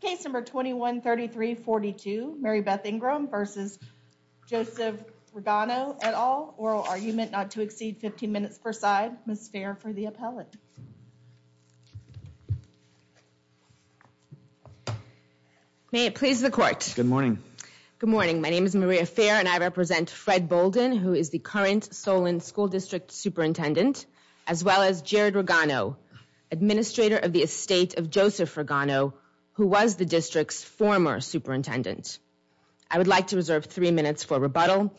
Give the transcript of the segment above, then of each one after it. Case number 21-33-42 Maribethe Ingram v. Joseph Regano et al. Oral argument not to exceed 15 minutes per side. Ms. Fair for the appellate. May it please the court. Good morning. Good morning. My name is Maria Fair and I represent Fred Bolden, who is the current Solon School District Superintendent, as well as Jared Regano, administrator of the estate of Joseph Regano, who was the district's former superintendent. I would like to reserve three minutes for rebuttal.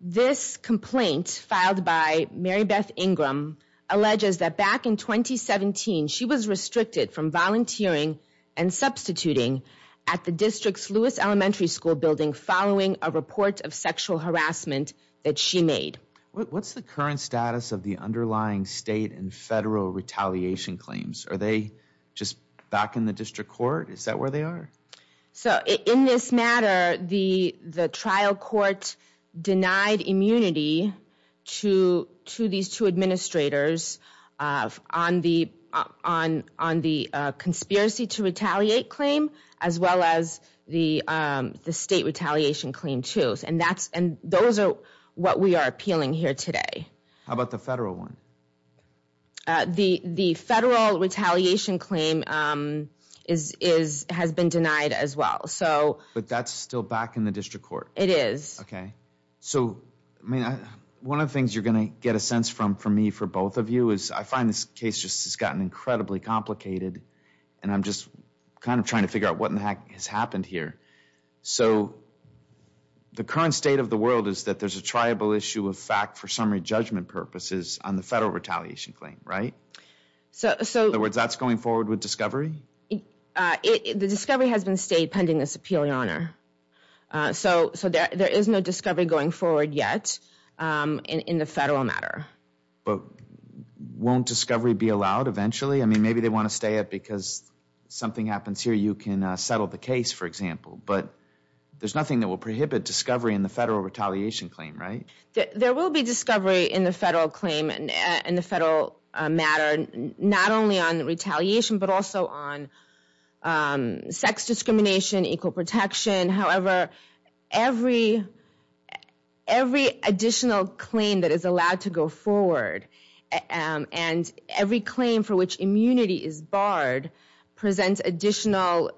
This complaint filed by Maribethe Ingram alleges that back in 2017, she was restricted from volunteering and substituting at the district's Lewis Elementary School building following a report of sexual harassment that she made. What's the current status of the underlying state and federal retaliation claims? Are they just back in the district court? Is that where they are? So in this matter, the trial court denied immunity to these two administrators on the conspiracy to retaliate claim, as well as the state retaliation claim too. And those are what we are appealing here today. How about the federal one? The federal retaliation claim has been denied as well. But that's still back in the district court? It is. Okay. So, I mean, one of the things you're going to get a sense from, for me, for both of you, is I find this case just has gotten incredibly complicated and I'm just kind of trying to figure out what in the heck has happened here. So the current state of the world is that there's a triable issue of fact for summary judgment purposes on the federal retaliation claim, right? In other words, that's going forward with discovery? The discovery has been stayed pending this appeal in honor. So there is no discovery going forward yet in the federal matter. But won't discovery be allowed eventually? I mean, maybe they want to stay it because something happens here, you can settle the case, for example. But there's nothing that will prohibit discovery in the federal retaliation claim, right? There will be discovery in the federal claim in the federal matter, not only on retaliation, but also on sex discrimination, equal protection. However, every additional claim that is allowed to go forward and every claim for which immunity is barred presents additional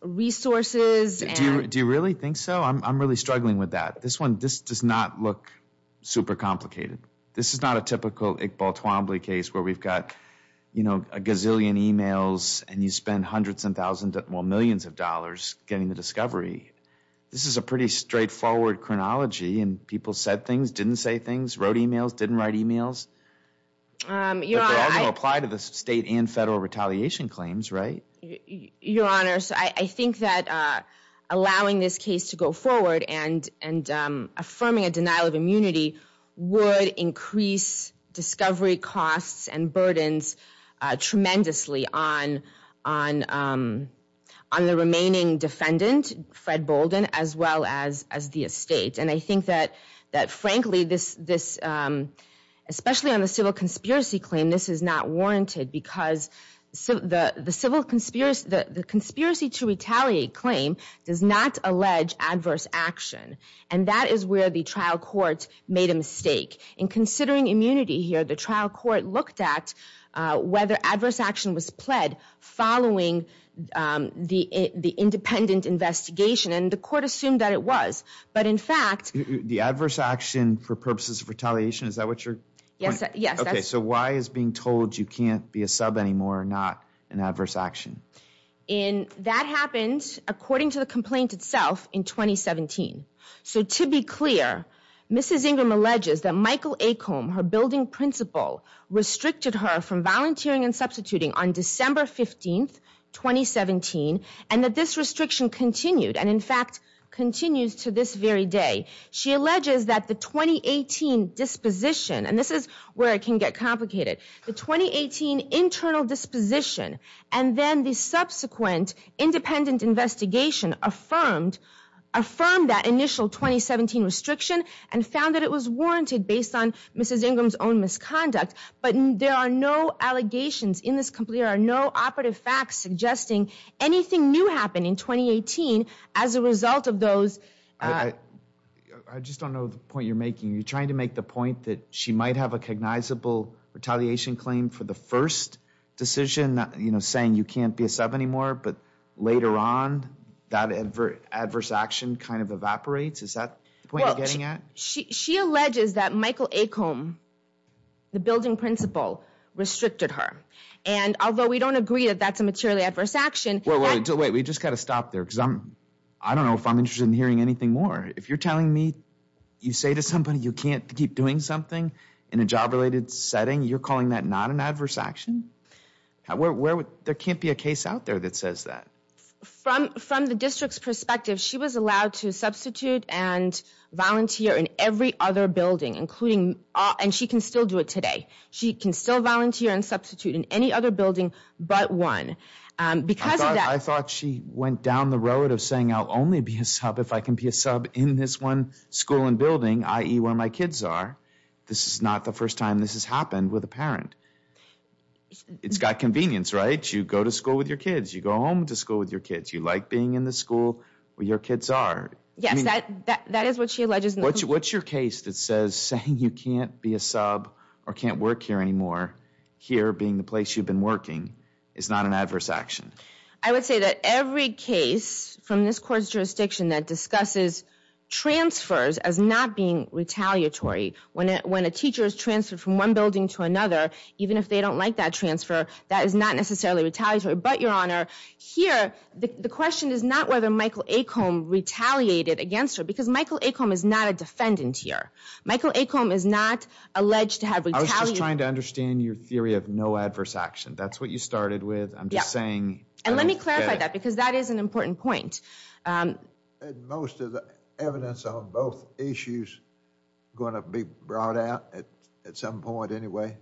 resources. Do you really think so? I'm really struggling with that. This one, this does not look super complicated. This is not a typical Iqbal Twombly case where we've got a gazillion emails and you spend hundreds and thousands, well, millions of dollars getting the discovery. This is a pretty straightforward chronology and people said things, didn't say things, wrote emails, didn't write emails. But they're all going to apply to the state and federal retaliation claims, right? Your Honor, I think that allowing this case to go forward and affirming a denial of immunity would increase discovery costs and burdens tremendously on the remaining defendant, Fred Bolden, as well as the estate. And I think that, frankly, this, especially on the civil conspiracy claim, this is not warranted because the conspiracy to retaliate claim does not allege adverse action. And that is where the trial court made a mistake. In considering immunity here, the trial court looked at whether adverse action was pled following the independent investigation and the court assumed that it was. But in fact- The adverse action for purposes of retaliation, is that what you're- Yes, yes. Okay, so why is being told you can't be a sub anymore not an adverse action? That happened, according to the complaint itself, in 2017. So to be clear, Mrs. Ingram alleges that Michael Acomb, her building principal, restricted her from volunteering and substituting on December 15th, 2017, and that this restriction continued and in fact continues to this very day. She alleges that the 2018 disposition, and this is where it can get complicated, the 2018 internal disposition and then the subsequent independent investigation affirmed that initial 2017 restriction and found that it was warranted based on Mrs. Ingram's own misconduct. But there are no allegations in this complaint, there are no operative facts suggesting anything new happened in 2018 as a result of those- I just don't know the point you're making. You're trying to make the point that she might have a cognizable retaliation claim for the first decision, you know, saying you can't be a sub anymore, but later on that adverse action kind of evaporates? Is that the point you're getting at? She alleges that Michael Acomb, the building principal, restricted her. And although we don't agree that that's a materially adverse action- Wait, wait, wait, we just gotta stop there because I don't know if I'm interested in hearing anything more. If you're telling me you say to somebody you can't keep doing something in a job-related setting, you're calling that not an adverse action? There can't be a case out there that says that. From the district's perspective, she was allowed to substitute and volunteer in every other building, including- and she can still do it today. She can still volunteer and substitute in any other building but one. Because of that- I thought she went down the road of saying I'll only be a sub if I can be a sub in this one school and building, i.e. where my kids are. This is not the first time this has happened with a parent. It's got convenience, right? You go to school with your kids. You go home to school with your kids. You like being in the school where your kids are. Yes, that is what she alleges- What's your case that says saying you can't be a sub or can't work here anymore, here being the place you've been working, is not an adverse action? I would say that every case from this court's jurisdiction that discusses transfers as not being retaliatory, when a teacher is transferred from one building to another, even if they don't like that transfer, that is not necessarily retaliatory. But, Your Honor, here, the question is not whether Michael Acomb retaliated against her because Michael Acomb is not a defendant here. Michael Acomb is not alleged to have retaliated- I was just trying to understand your theory of no adverse action. That's what you started with. I'm just saying- And let me clarify that because that is an important point. Most of the evidence on both issues going to be brought out at some point anyway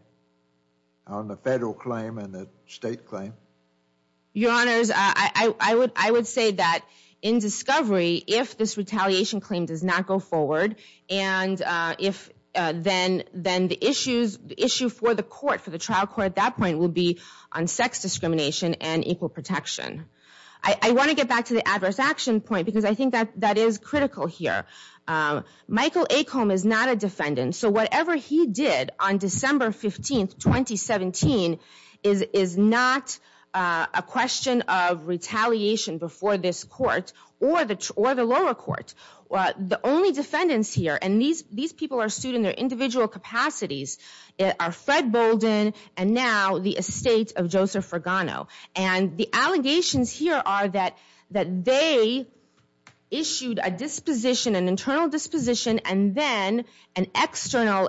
on the federal claim and the state claim. Your Honors, I would say that in discovery, if this retaliation claim does not go forward, and then the issue for the court, for the trial court at that point, will be on sex discrimination and equal protection. I want to get back to the adverse action point because I think that is critical here. Michael Acomb is not a defendant, so whatever he did on December 15th, 2017 is not a question of retaliation before this court or the lower court. The only defendants here, and these people are sued in their individual capacities, are Fred Bolden and now the estate of Joseph Fergano. And the allegations here are that they issued a disposition, an internal disposition, and then an external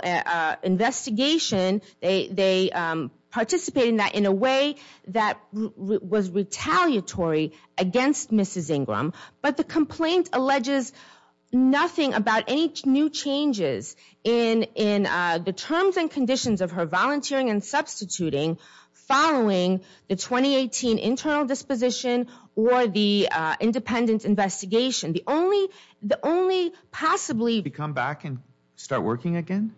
investigation. They participated in that in a way that was retaliatory against Mrs. Ingram. But the complaint alleges nothing about any new changes in the terms and conditions of her volunteering and substituting following the 2018 internal disposition or the independent investigation. The only possibly- Did she come back and start working again?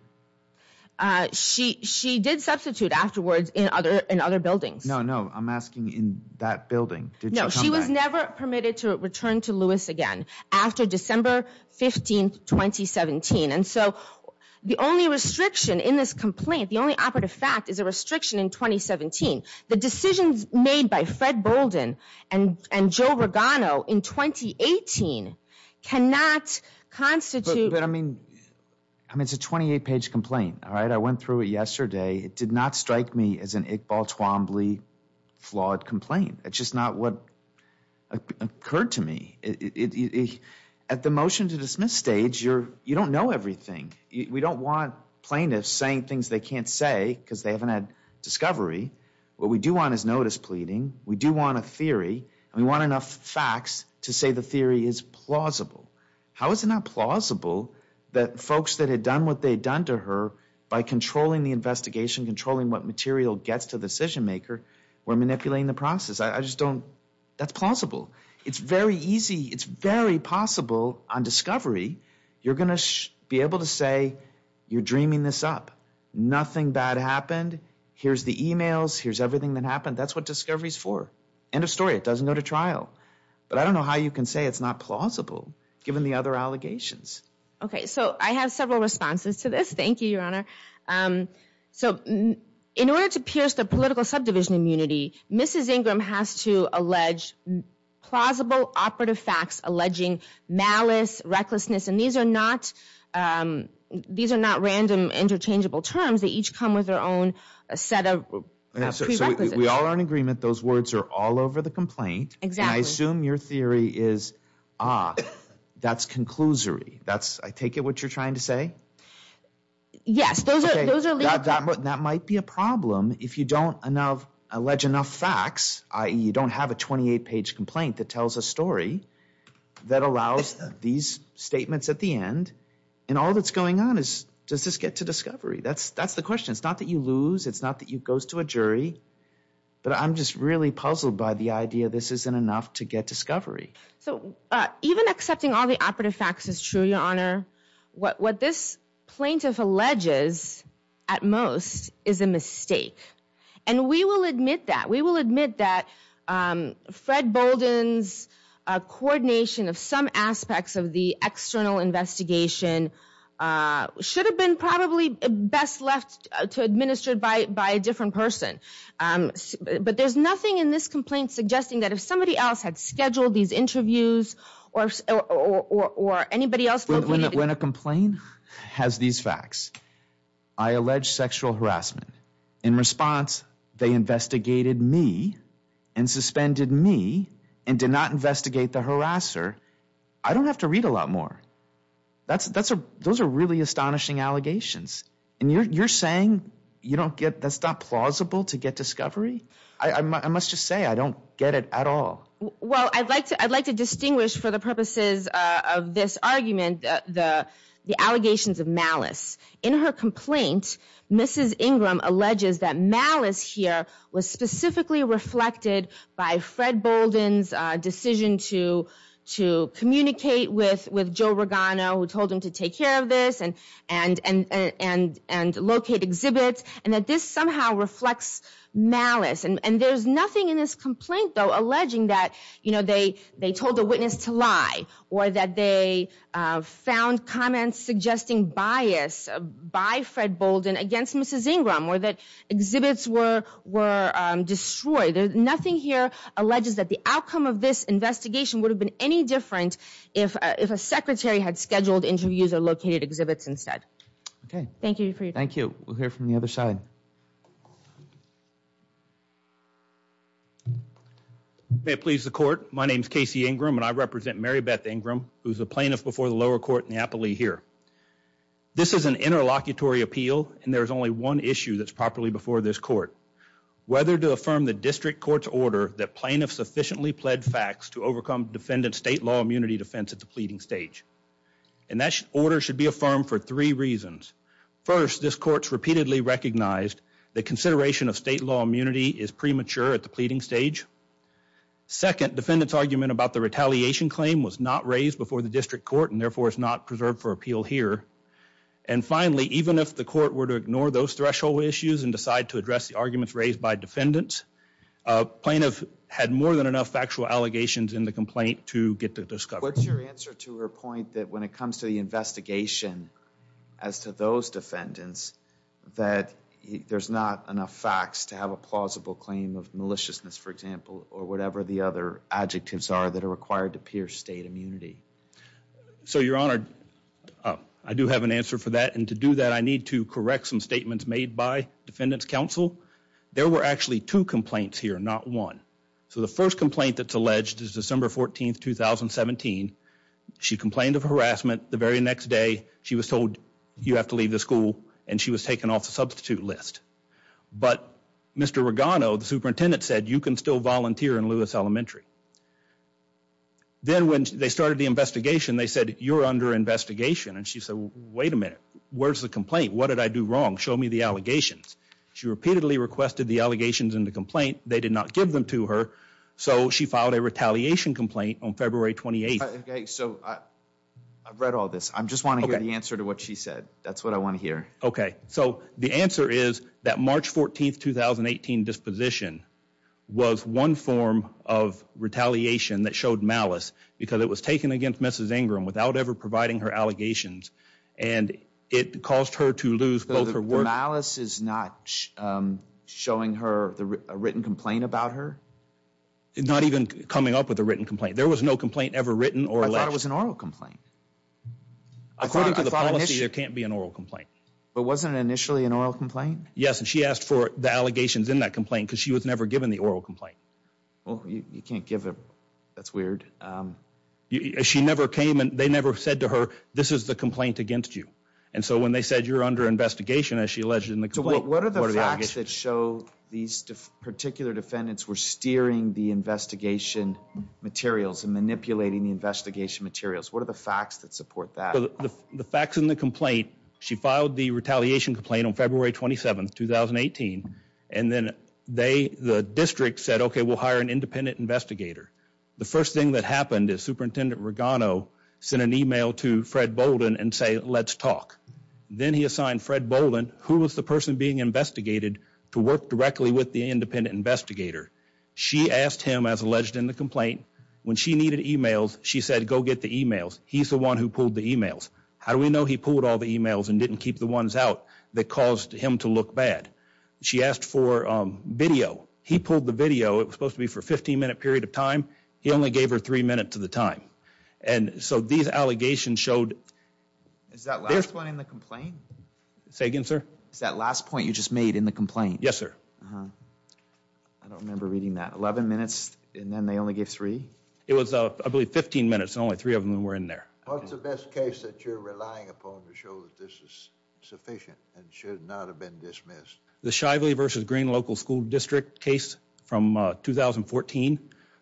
She did substitute afterwards in other buildings. No, no, I'm asking in that building. No, she was never permitted to return to Lewis again after December 15th, 2017. And so the only restriction in this complaint, the only operative fact, is a restriction in 2017. The decisions made by Fred Bolden and Joe Regano in 2018 cannot constitute- But I mean, it's a 28-page complaint, all right? I went through it yesterday. It did not strike me as an Iqbal Twombly flawed complaint. It's just not what occurred to me. At the motion to dismiss stage, you don't know everything. We don't want plaintiffs saying things they can't say because they haven't had discovery. What we do want is notice pleading. We do want a theory. And we want enough facts to say the theory is plausible. How is it not plausible that folks that had done what they'd done to her by controlling the investigation, controlling what material gets to the decision maker, were manipulating the process? I just don't- That's plausible. It's very easy. It's very possible on discovery you're dreaming this up. Nothing bad happened. Here's the emails. Here's everything that happened. That's what discovery's for. End of story. It doesn't go to trial. But I don't know how you can say it's not plausible given the other allegations. Okay. So I have several responses to this. Thank you, Your Honor. So in order to pierce the political subdivision immunity, Mrs. Ingram has to allege plausible operative facts alleging malice, recklessness. And these are not- These are not random interchangeable terms. They each come with their own a set of prerequisites. We all are in agreement. Those words are all over the complaint. Exactly. I assume your theory is, ah, that's conclusory. That's- I take it what you're trying to say? Yes. That might be a problem if you don't allege enough facts, i.e. you don't have a 28-page complaint that tells a story that allows these statements at the end. And all that's going on is, does this get to discovery? That's the question. It's not that you lose. It's not that it goes to a jury. But I'm just really puzzled by the idea this isn't enough to get discovery. So even accepting all the operative facts is true, Your Honor. What this plaintiff alleges at most is a mistake. And we will admit that. We will admit that Fred Bolden's coordination of some aspects of the external investigation should have been probably best left to administer by a different person. But there's nothing in this complaint suggesting that if somebody else had scheduled these interviews or anybody else- When a complaint has these facts, I allege sexual harassment. In response, they investigated me and suspended me and did not investigate the harasser. I don't have to read a lot more. Those are really astonishing allegations. And you're saying that's not plausible to get discovery? I must just say, I don't get it at all. Well, I'd like to distinguish for the purposes of this argument the allegations of malice. In her complaint, Mrs. Ingram alleges that malice here was specifically reflected by Fred Bolden's decision to communicate with Joe Regano, who told him to take care of this, and locate exhibits, and that this somehow reflects malice. And there's nothing in this complaint, though, alleging that they told a witness to lie or that they found comments suggesting bias by Fred Bolden against Mrs. Ingram or that exhibits were destroyed. Nothing here alleges that the outcome of this investigation would have been any different if a secretary had scheduled interviews or located exhibits instead. Okay. Thank you for your time. Thank you. We'll hear from the other side. May it please the court. My name is Casey Ingram, and I represent Mary Beth Ingram, who's a plaintiff before the lower court in Napoli here. This is an interlocutory appeal, and there is only one issue that's properly before this court, whether to affirm the district court's order that plaintiffs sufficiently pled facts to overcome defendant state law immunity defense at the pleading stage. And that order should be affirmed for three reasons. First, this court's repeatedly recognized that consideration of state law immunity is premature at the pleading stage. Second, defendant's argument about the retaliation claim was not raised before the district court and therefore is not preserved for appeal here. And finally, even if the court were to ignore those threshold issues and decide to address the arguments raised by defendants, a plaintiff had more than enough factual allegations in the complaint to get the discovery. What's your answer to her point that when it comes to the investigation as to those defendants, that there's not enough facts to have a plausible claim of maliciousness, for example, or whatever the other adjectives are that are required to pierce state immunity? So, Your Honor, I do have an answer for that. And to do that, I need to correct some statements made by defendants counsel. There were actually two complaints here, not one. So the first complaint that's alleged is December 14th, 2017. She complained of harassment. The very next day, she was told you have to leave the school and she was taken off the substitute list. But Mr. Regano, the superintendent, said you can still volunteer in Lewis Elementary. Then when they started the investigation, they said you're under investigation. And she said, wait a minute, where's the complaint? What did I do wrong? Show me the allegations. She repeatedly requested the allegations in the complaint. They did not give them to her. So she filed a retaliation complaint on February 28th. Okay, so I've read all this. I just want to hear the answer to what she said. That's what I want to hear. Okay. So the answer is that March 14th, 2018 disposition was one form of retaliation that showed malice because it was taken against Mrs. Ingram without ever providing her allegations. And it caused her to lose both her work. Malice is not showing her a written complaint about her? Not even coming up with a written complaint. There was no complaint ever written. I thought it was an oral complaint. According to the policy, there can't be an oral complaint. But wasn't it initially an oral complaint? Yes. And she asked for the allegations in that complaint because she was never given the oral complaint. Well, you can't give it. That's weird. She never came and they never said to her, this is the complaint against you. And so when they said you're under investigation, as she alleged in the complaint. What are the facts that show these particular defendants were steering the investigation materials and manipulating the investigation materials? What are the facts that support that? The facts in the complaint, she filed the retaliation complaint on February 27th, 2018. And then they, the district said, OK, we'll hire an independent investigator. The first thing that happened is Superintendent Regano sent an email to Fred Bolden and say, let's talk. Then he assigned Fred Bolden, who was the person being investigated to work directly with the independent investigator. She asked him, as alleged in the complaint, when she needed emails, she said, go get the emails. He's the one who pulled the emails. How do we know he pulled all the emails and didn't keep the ones out that caused him to look bad? She asked for video. He pulled the video. It was supposed to be for a 15 minute period of time. He only gave her three minutes of the time. And so these allegations showed. Is that last one in the complaint? Say again, sir. Is that last point you just made in the complaint? Yes, sir. I don't remember reading that 11 minutes and then they only gave three. It was, I believe, 15 minutes and only three of them were in there. What's the best case that you're relying upon to show that this is sufficient and should not have been dismissed? The Shively versus Green local school district case from 2014.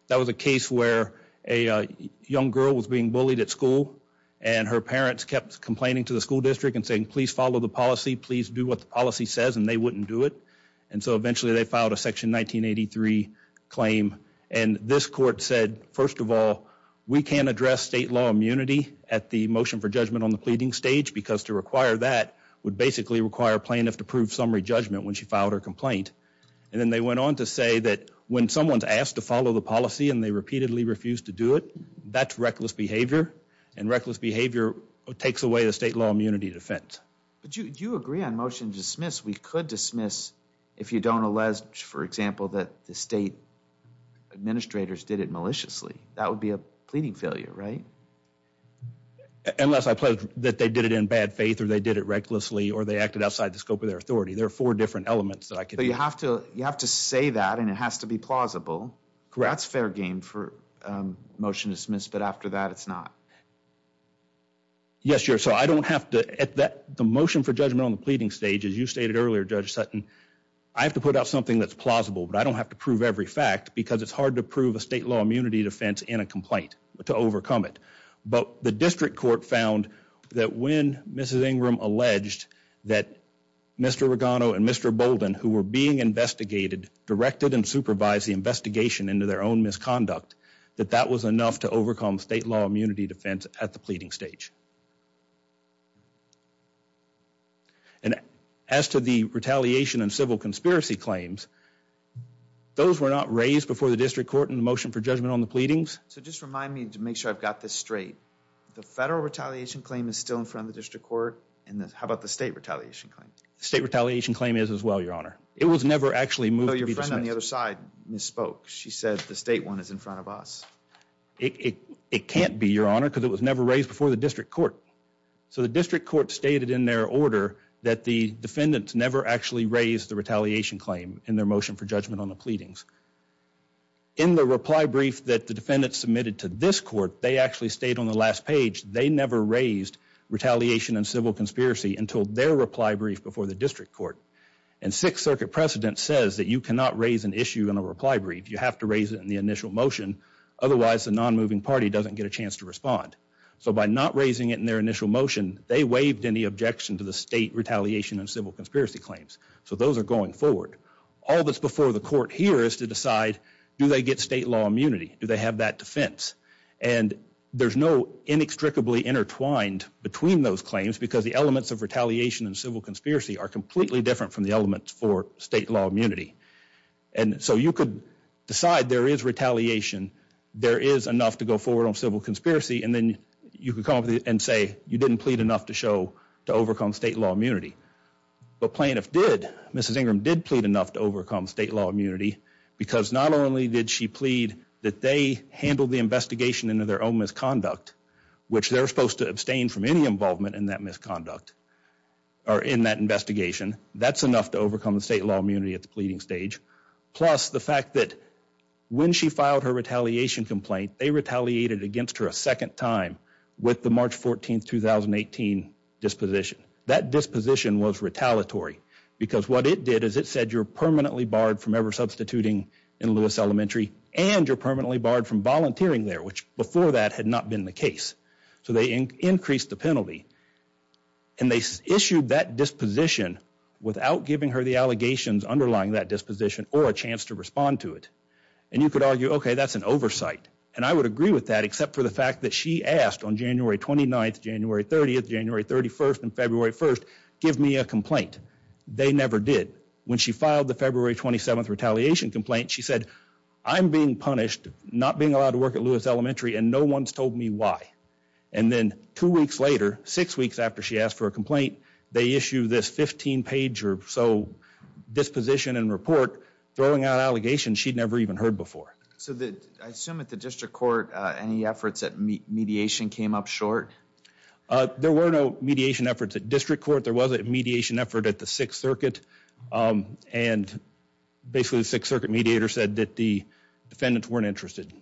That was a case where a young girl was being bullied at school and her parents kept complaining to the school district and saying, please follow the policy. Please do what the policy says and they wouldn't do it. And so eventually they filed a section 1983 claim. And this court said, first of all, we can't address state law immunity at the motion for judgment on the pleading stage because to require that would basically require plaintiff to prove summary judgment when she filed her complaint. And then they went on to say that when someone's asked to follow the policy and they repeatedly refuse to do it, that's reckless behavior. And reckless behavior takes away the state law immunity defense. But do you agree on motion to dismiss? We could dismiss if you don't allege, for example, that the state administrators did it maliciously. That would be a pleading failure, right? Unless I pledge that they did it in bad faith or they did it recklessly or they acted outside the scope of their authority. There are four different elements. You have to say that and it has to be plausible. That's fair game for motion to dismiss. But after that, it's not. Yes, Chair. So I don't have to at that the motion for judgment on the pleading stage as you stated earlier, Judge Sutton. I have to put out something that's plausible, but I don't have to prove every fact because it's hard to prove a state law immunity defense in a complaint to overcome it. But the district court found that when Mrs. Ingram alleged that Mr. Regano and Mr. Bolden, who were being investigated, directed and supervised the investigation into their own misconduct, that that was enough to overcome state law immunity defense at the pleading stage. And as to the retaliation and civil conspiracy claims, those were not raised before the district court in the motion for judgment on the pleadings. So just remind me to make sure I've got this straight. The federal retaliation claim is still in front of the district court. And how about the state retaliation claim? State retaliation claim is as well, Your Honor. It was never actually moved. Your friend on the other side misspoke. is in front of us. It can't be, Your Honor, because it was never raised before the district court. It was never actually moved. So the district court stated in their order that the defendants never actually raised the retaliation claim in their motion for judgment on the pleadings. In the reply brief that the defendants submitted to this court, they actually stayed on the last page. They never raised retaliation and civil conspiracy until their reply brief before the district court. And Sixth Circuit precedent says that you cannot raise an issue in a reply brief. You have to raise it in the initial motion. Otherwise, the non-moving party doesn't get a chance to respond. So by not raising it in their initial motion, they waived any objection to the state retaliation and civil conspiracy claims. So those are going forward. All that's before the court here is to decide, do they get state law immunity? Do they have that defense? And there's no inextricably intertwined between those claims because the elements of retaliation and civil conspiracy are completely different from the elements for state law immunity. And so you could decide there is retaliation, there is enough to go forward on civil conspiracy, and then you could come up and say, you didn't plead enough to show to overcome state law immunity. But plaintiff did. Mrs. Ingram did plead enough to overcome state law immunity because not only did she plead that they handled the investigation into their own misconduct, which they're supposed to abstain from any involvement in that misconduct or in that investigation. That's enough to overcome the state law immunity at the pleading stage. Plus the fact that when she filed her retaliation complaint, they retaliated against her a second time with the March 14, 2018 disposition. That disposition was retaliatory because what it did is it said you're permanently barred from ever substituting in Lewis Elementary and you're permanently barred from volunteering there, which before that had not been the case. So they increased the penalty and they issued that disposition without giving her the allegations underlying that disposition or a chance to respond to it. And you could argue, OK, that's an oversight. And I would agree with that, except for the fact that she asked on January 29th, January 30th, January 31st, and February 1st, give me a complaint. They never did. When she filed the February 27th retaliation complaint, she said, I'm being punished not being allowed to work at Lewis Elementary and no one's told me why. And then two weeks later, six weeks after she asked for a complaint, they issue this 15 page or so disposition and report throwing out allegations she'd never even heard before. So I assume at the district court, any efforts at mediation came up short. There were no mediation efforts at district court. There was a mediation effort at the Sixth Circuit and basically the Sixth Circuit mediator said that the defendants weren't interested.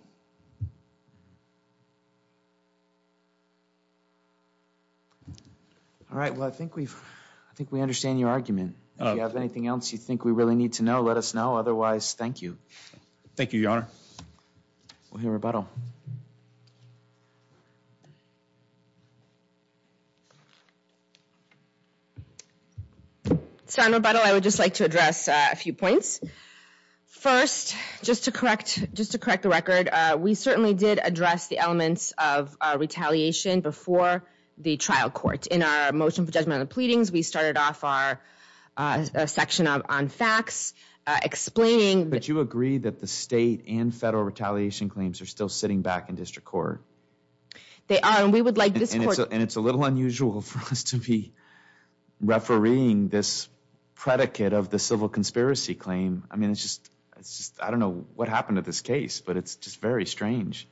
All right, well, I think we've, I think we understand your argument. If you have anything else you think we really need to know, let us know. Otherwise, thank you. Thank you, Your Honor. We'll hear rebuttal. Senator Buttle, I would just like to address a few points. First, just to correct, just to correct the record. We certainly did address the elements of our retaliation before the trial court. In our motion for judgment on the pleadings, we started off our section on facts explaining. But you agree that the state and federal retaliation claims are still sitting back in district court. They are, and we would like this court- And it's a little unusual for us to be refereeing this predicate of the civil conspiracy claim. I mean, it's just, it's just, I don't know what happened to this case, but it's just very strange.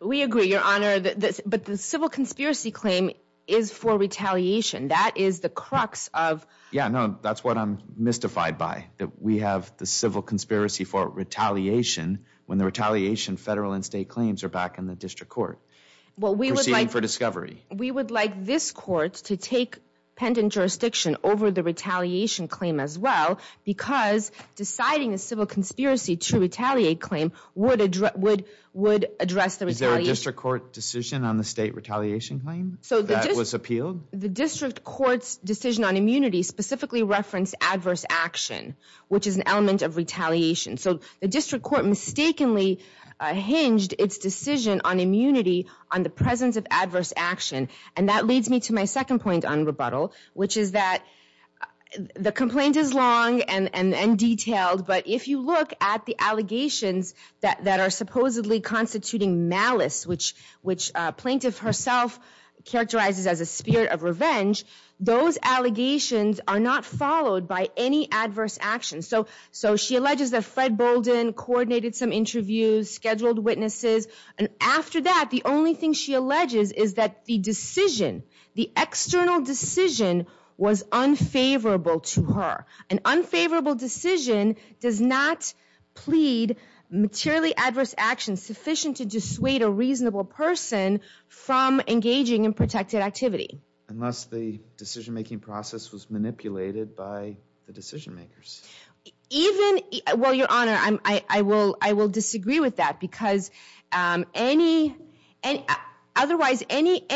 We agree, Your Honor, but the civil conspiracy claim is for retaliation. That is the crux of- Yeah, no, that's what I'm mystified by, that we have the civil conspiracy for retaliation. When the retaliation federal and state claims are back in the district court. Proceeding for discovery. We would like this court to take pendant jurisdiction over the retaliation claim as well, because deciding a civil conspiracy to retaliate claim would address the retaliation- Is there a district court decision on the state retaliation claim that was appealed? The district court's decision on immunity specifically referenced adverse action, which is an element of retaliation. So the district court mistakenly hinged its decision on immunity on the presence of adverse action. And that leads me to my second point on rebuttal, which is that the complaint is long and detailed, but if you look at the allegations that are supposedly constituting malice, which plaintiff herself characterizes as a spirit of revenge, those allegations are not followed by any adverse action. So she alleges that Fred Bolden coordinated some interviews, scheduled witnesses, and after that, the only thing she alleges is that the decision, the external decision was unfavorable to her. An unfavorable decision does not plead materially adverse action sufficient to dissuade a reasonable person from engaging in protected activity. Unless the decision-making process was manipulated by the decision makers. Even, well, Your Honor, I will disagree with that because otherwise any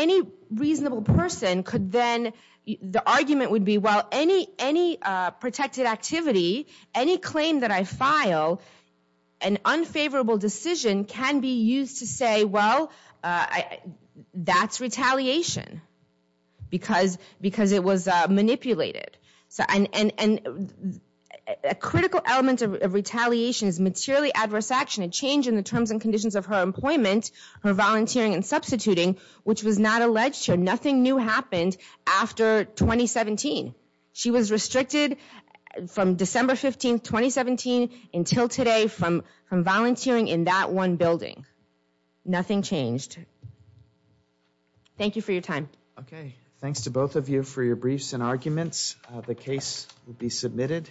reasonable person could then, the argument would be, well, any protected activity, any claim that I file, an unfavorable decision can be used to say, well, that's retaliation. Because it was manipulated. And a critical element of retaliation is materially adverse action, a change in the terms and conditions of her employment, her volunteering, and substituting, which was not alleged here. Nothing new happened after 2017. She was restricted from December 15th, 2017 until today from volunteering in that one building. Nothing changed. Thank you for your time. Okay. Thanks to both of you for your briefs and arguments. The case will be submitted.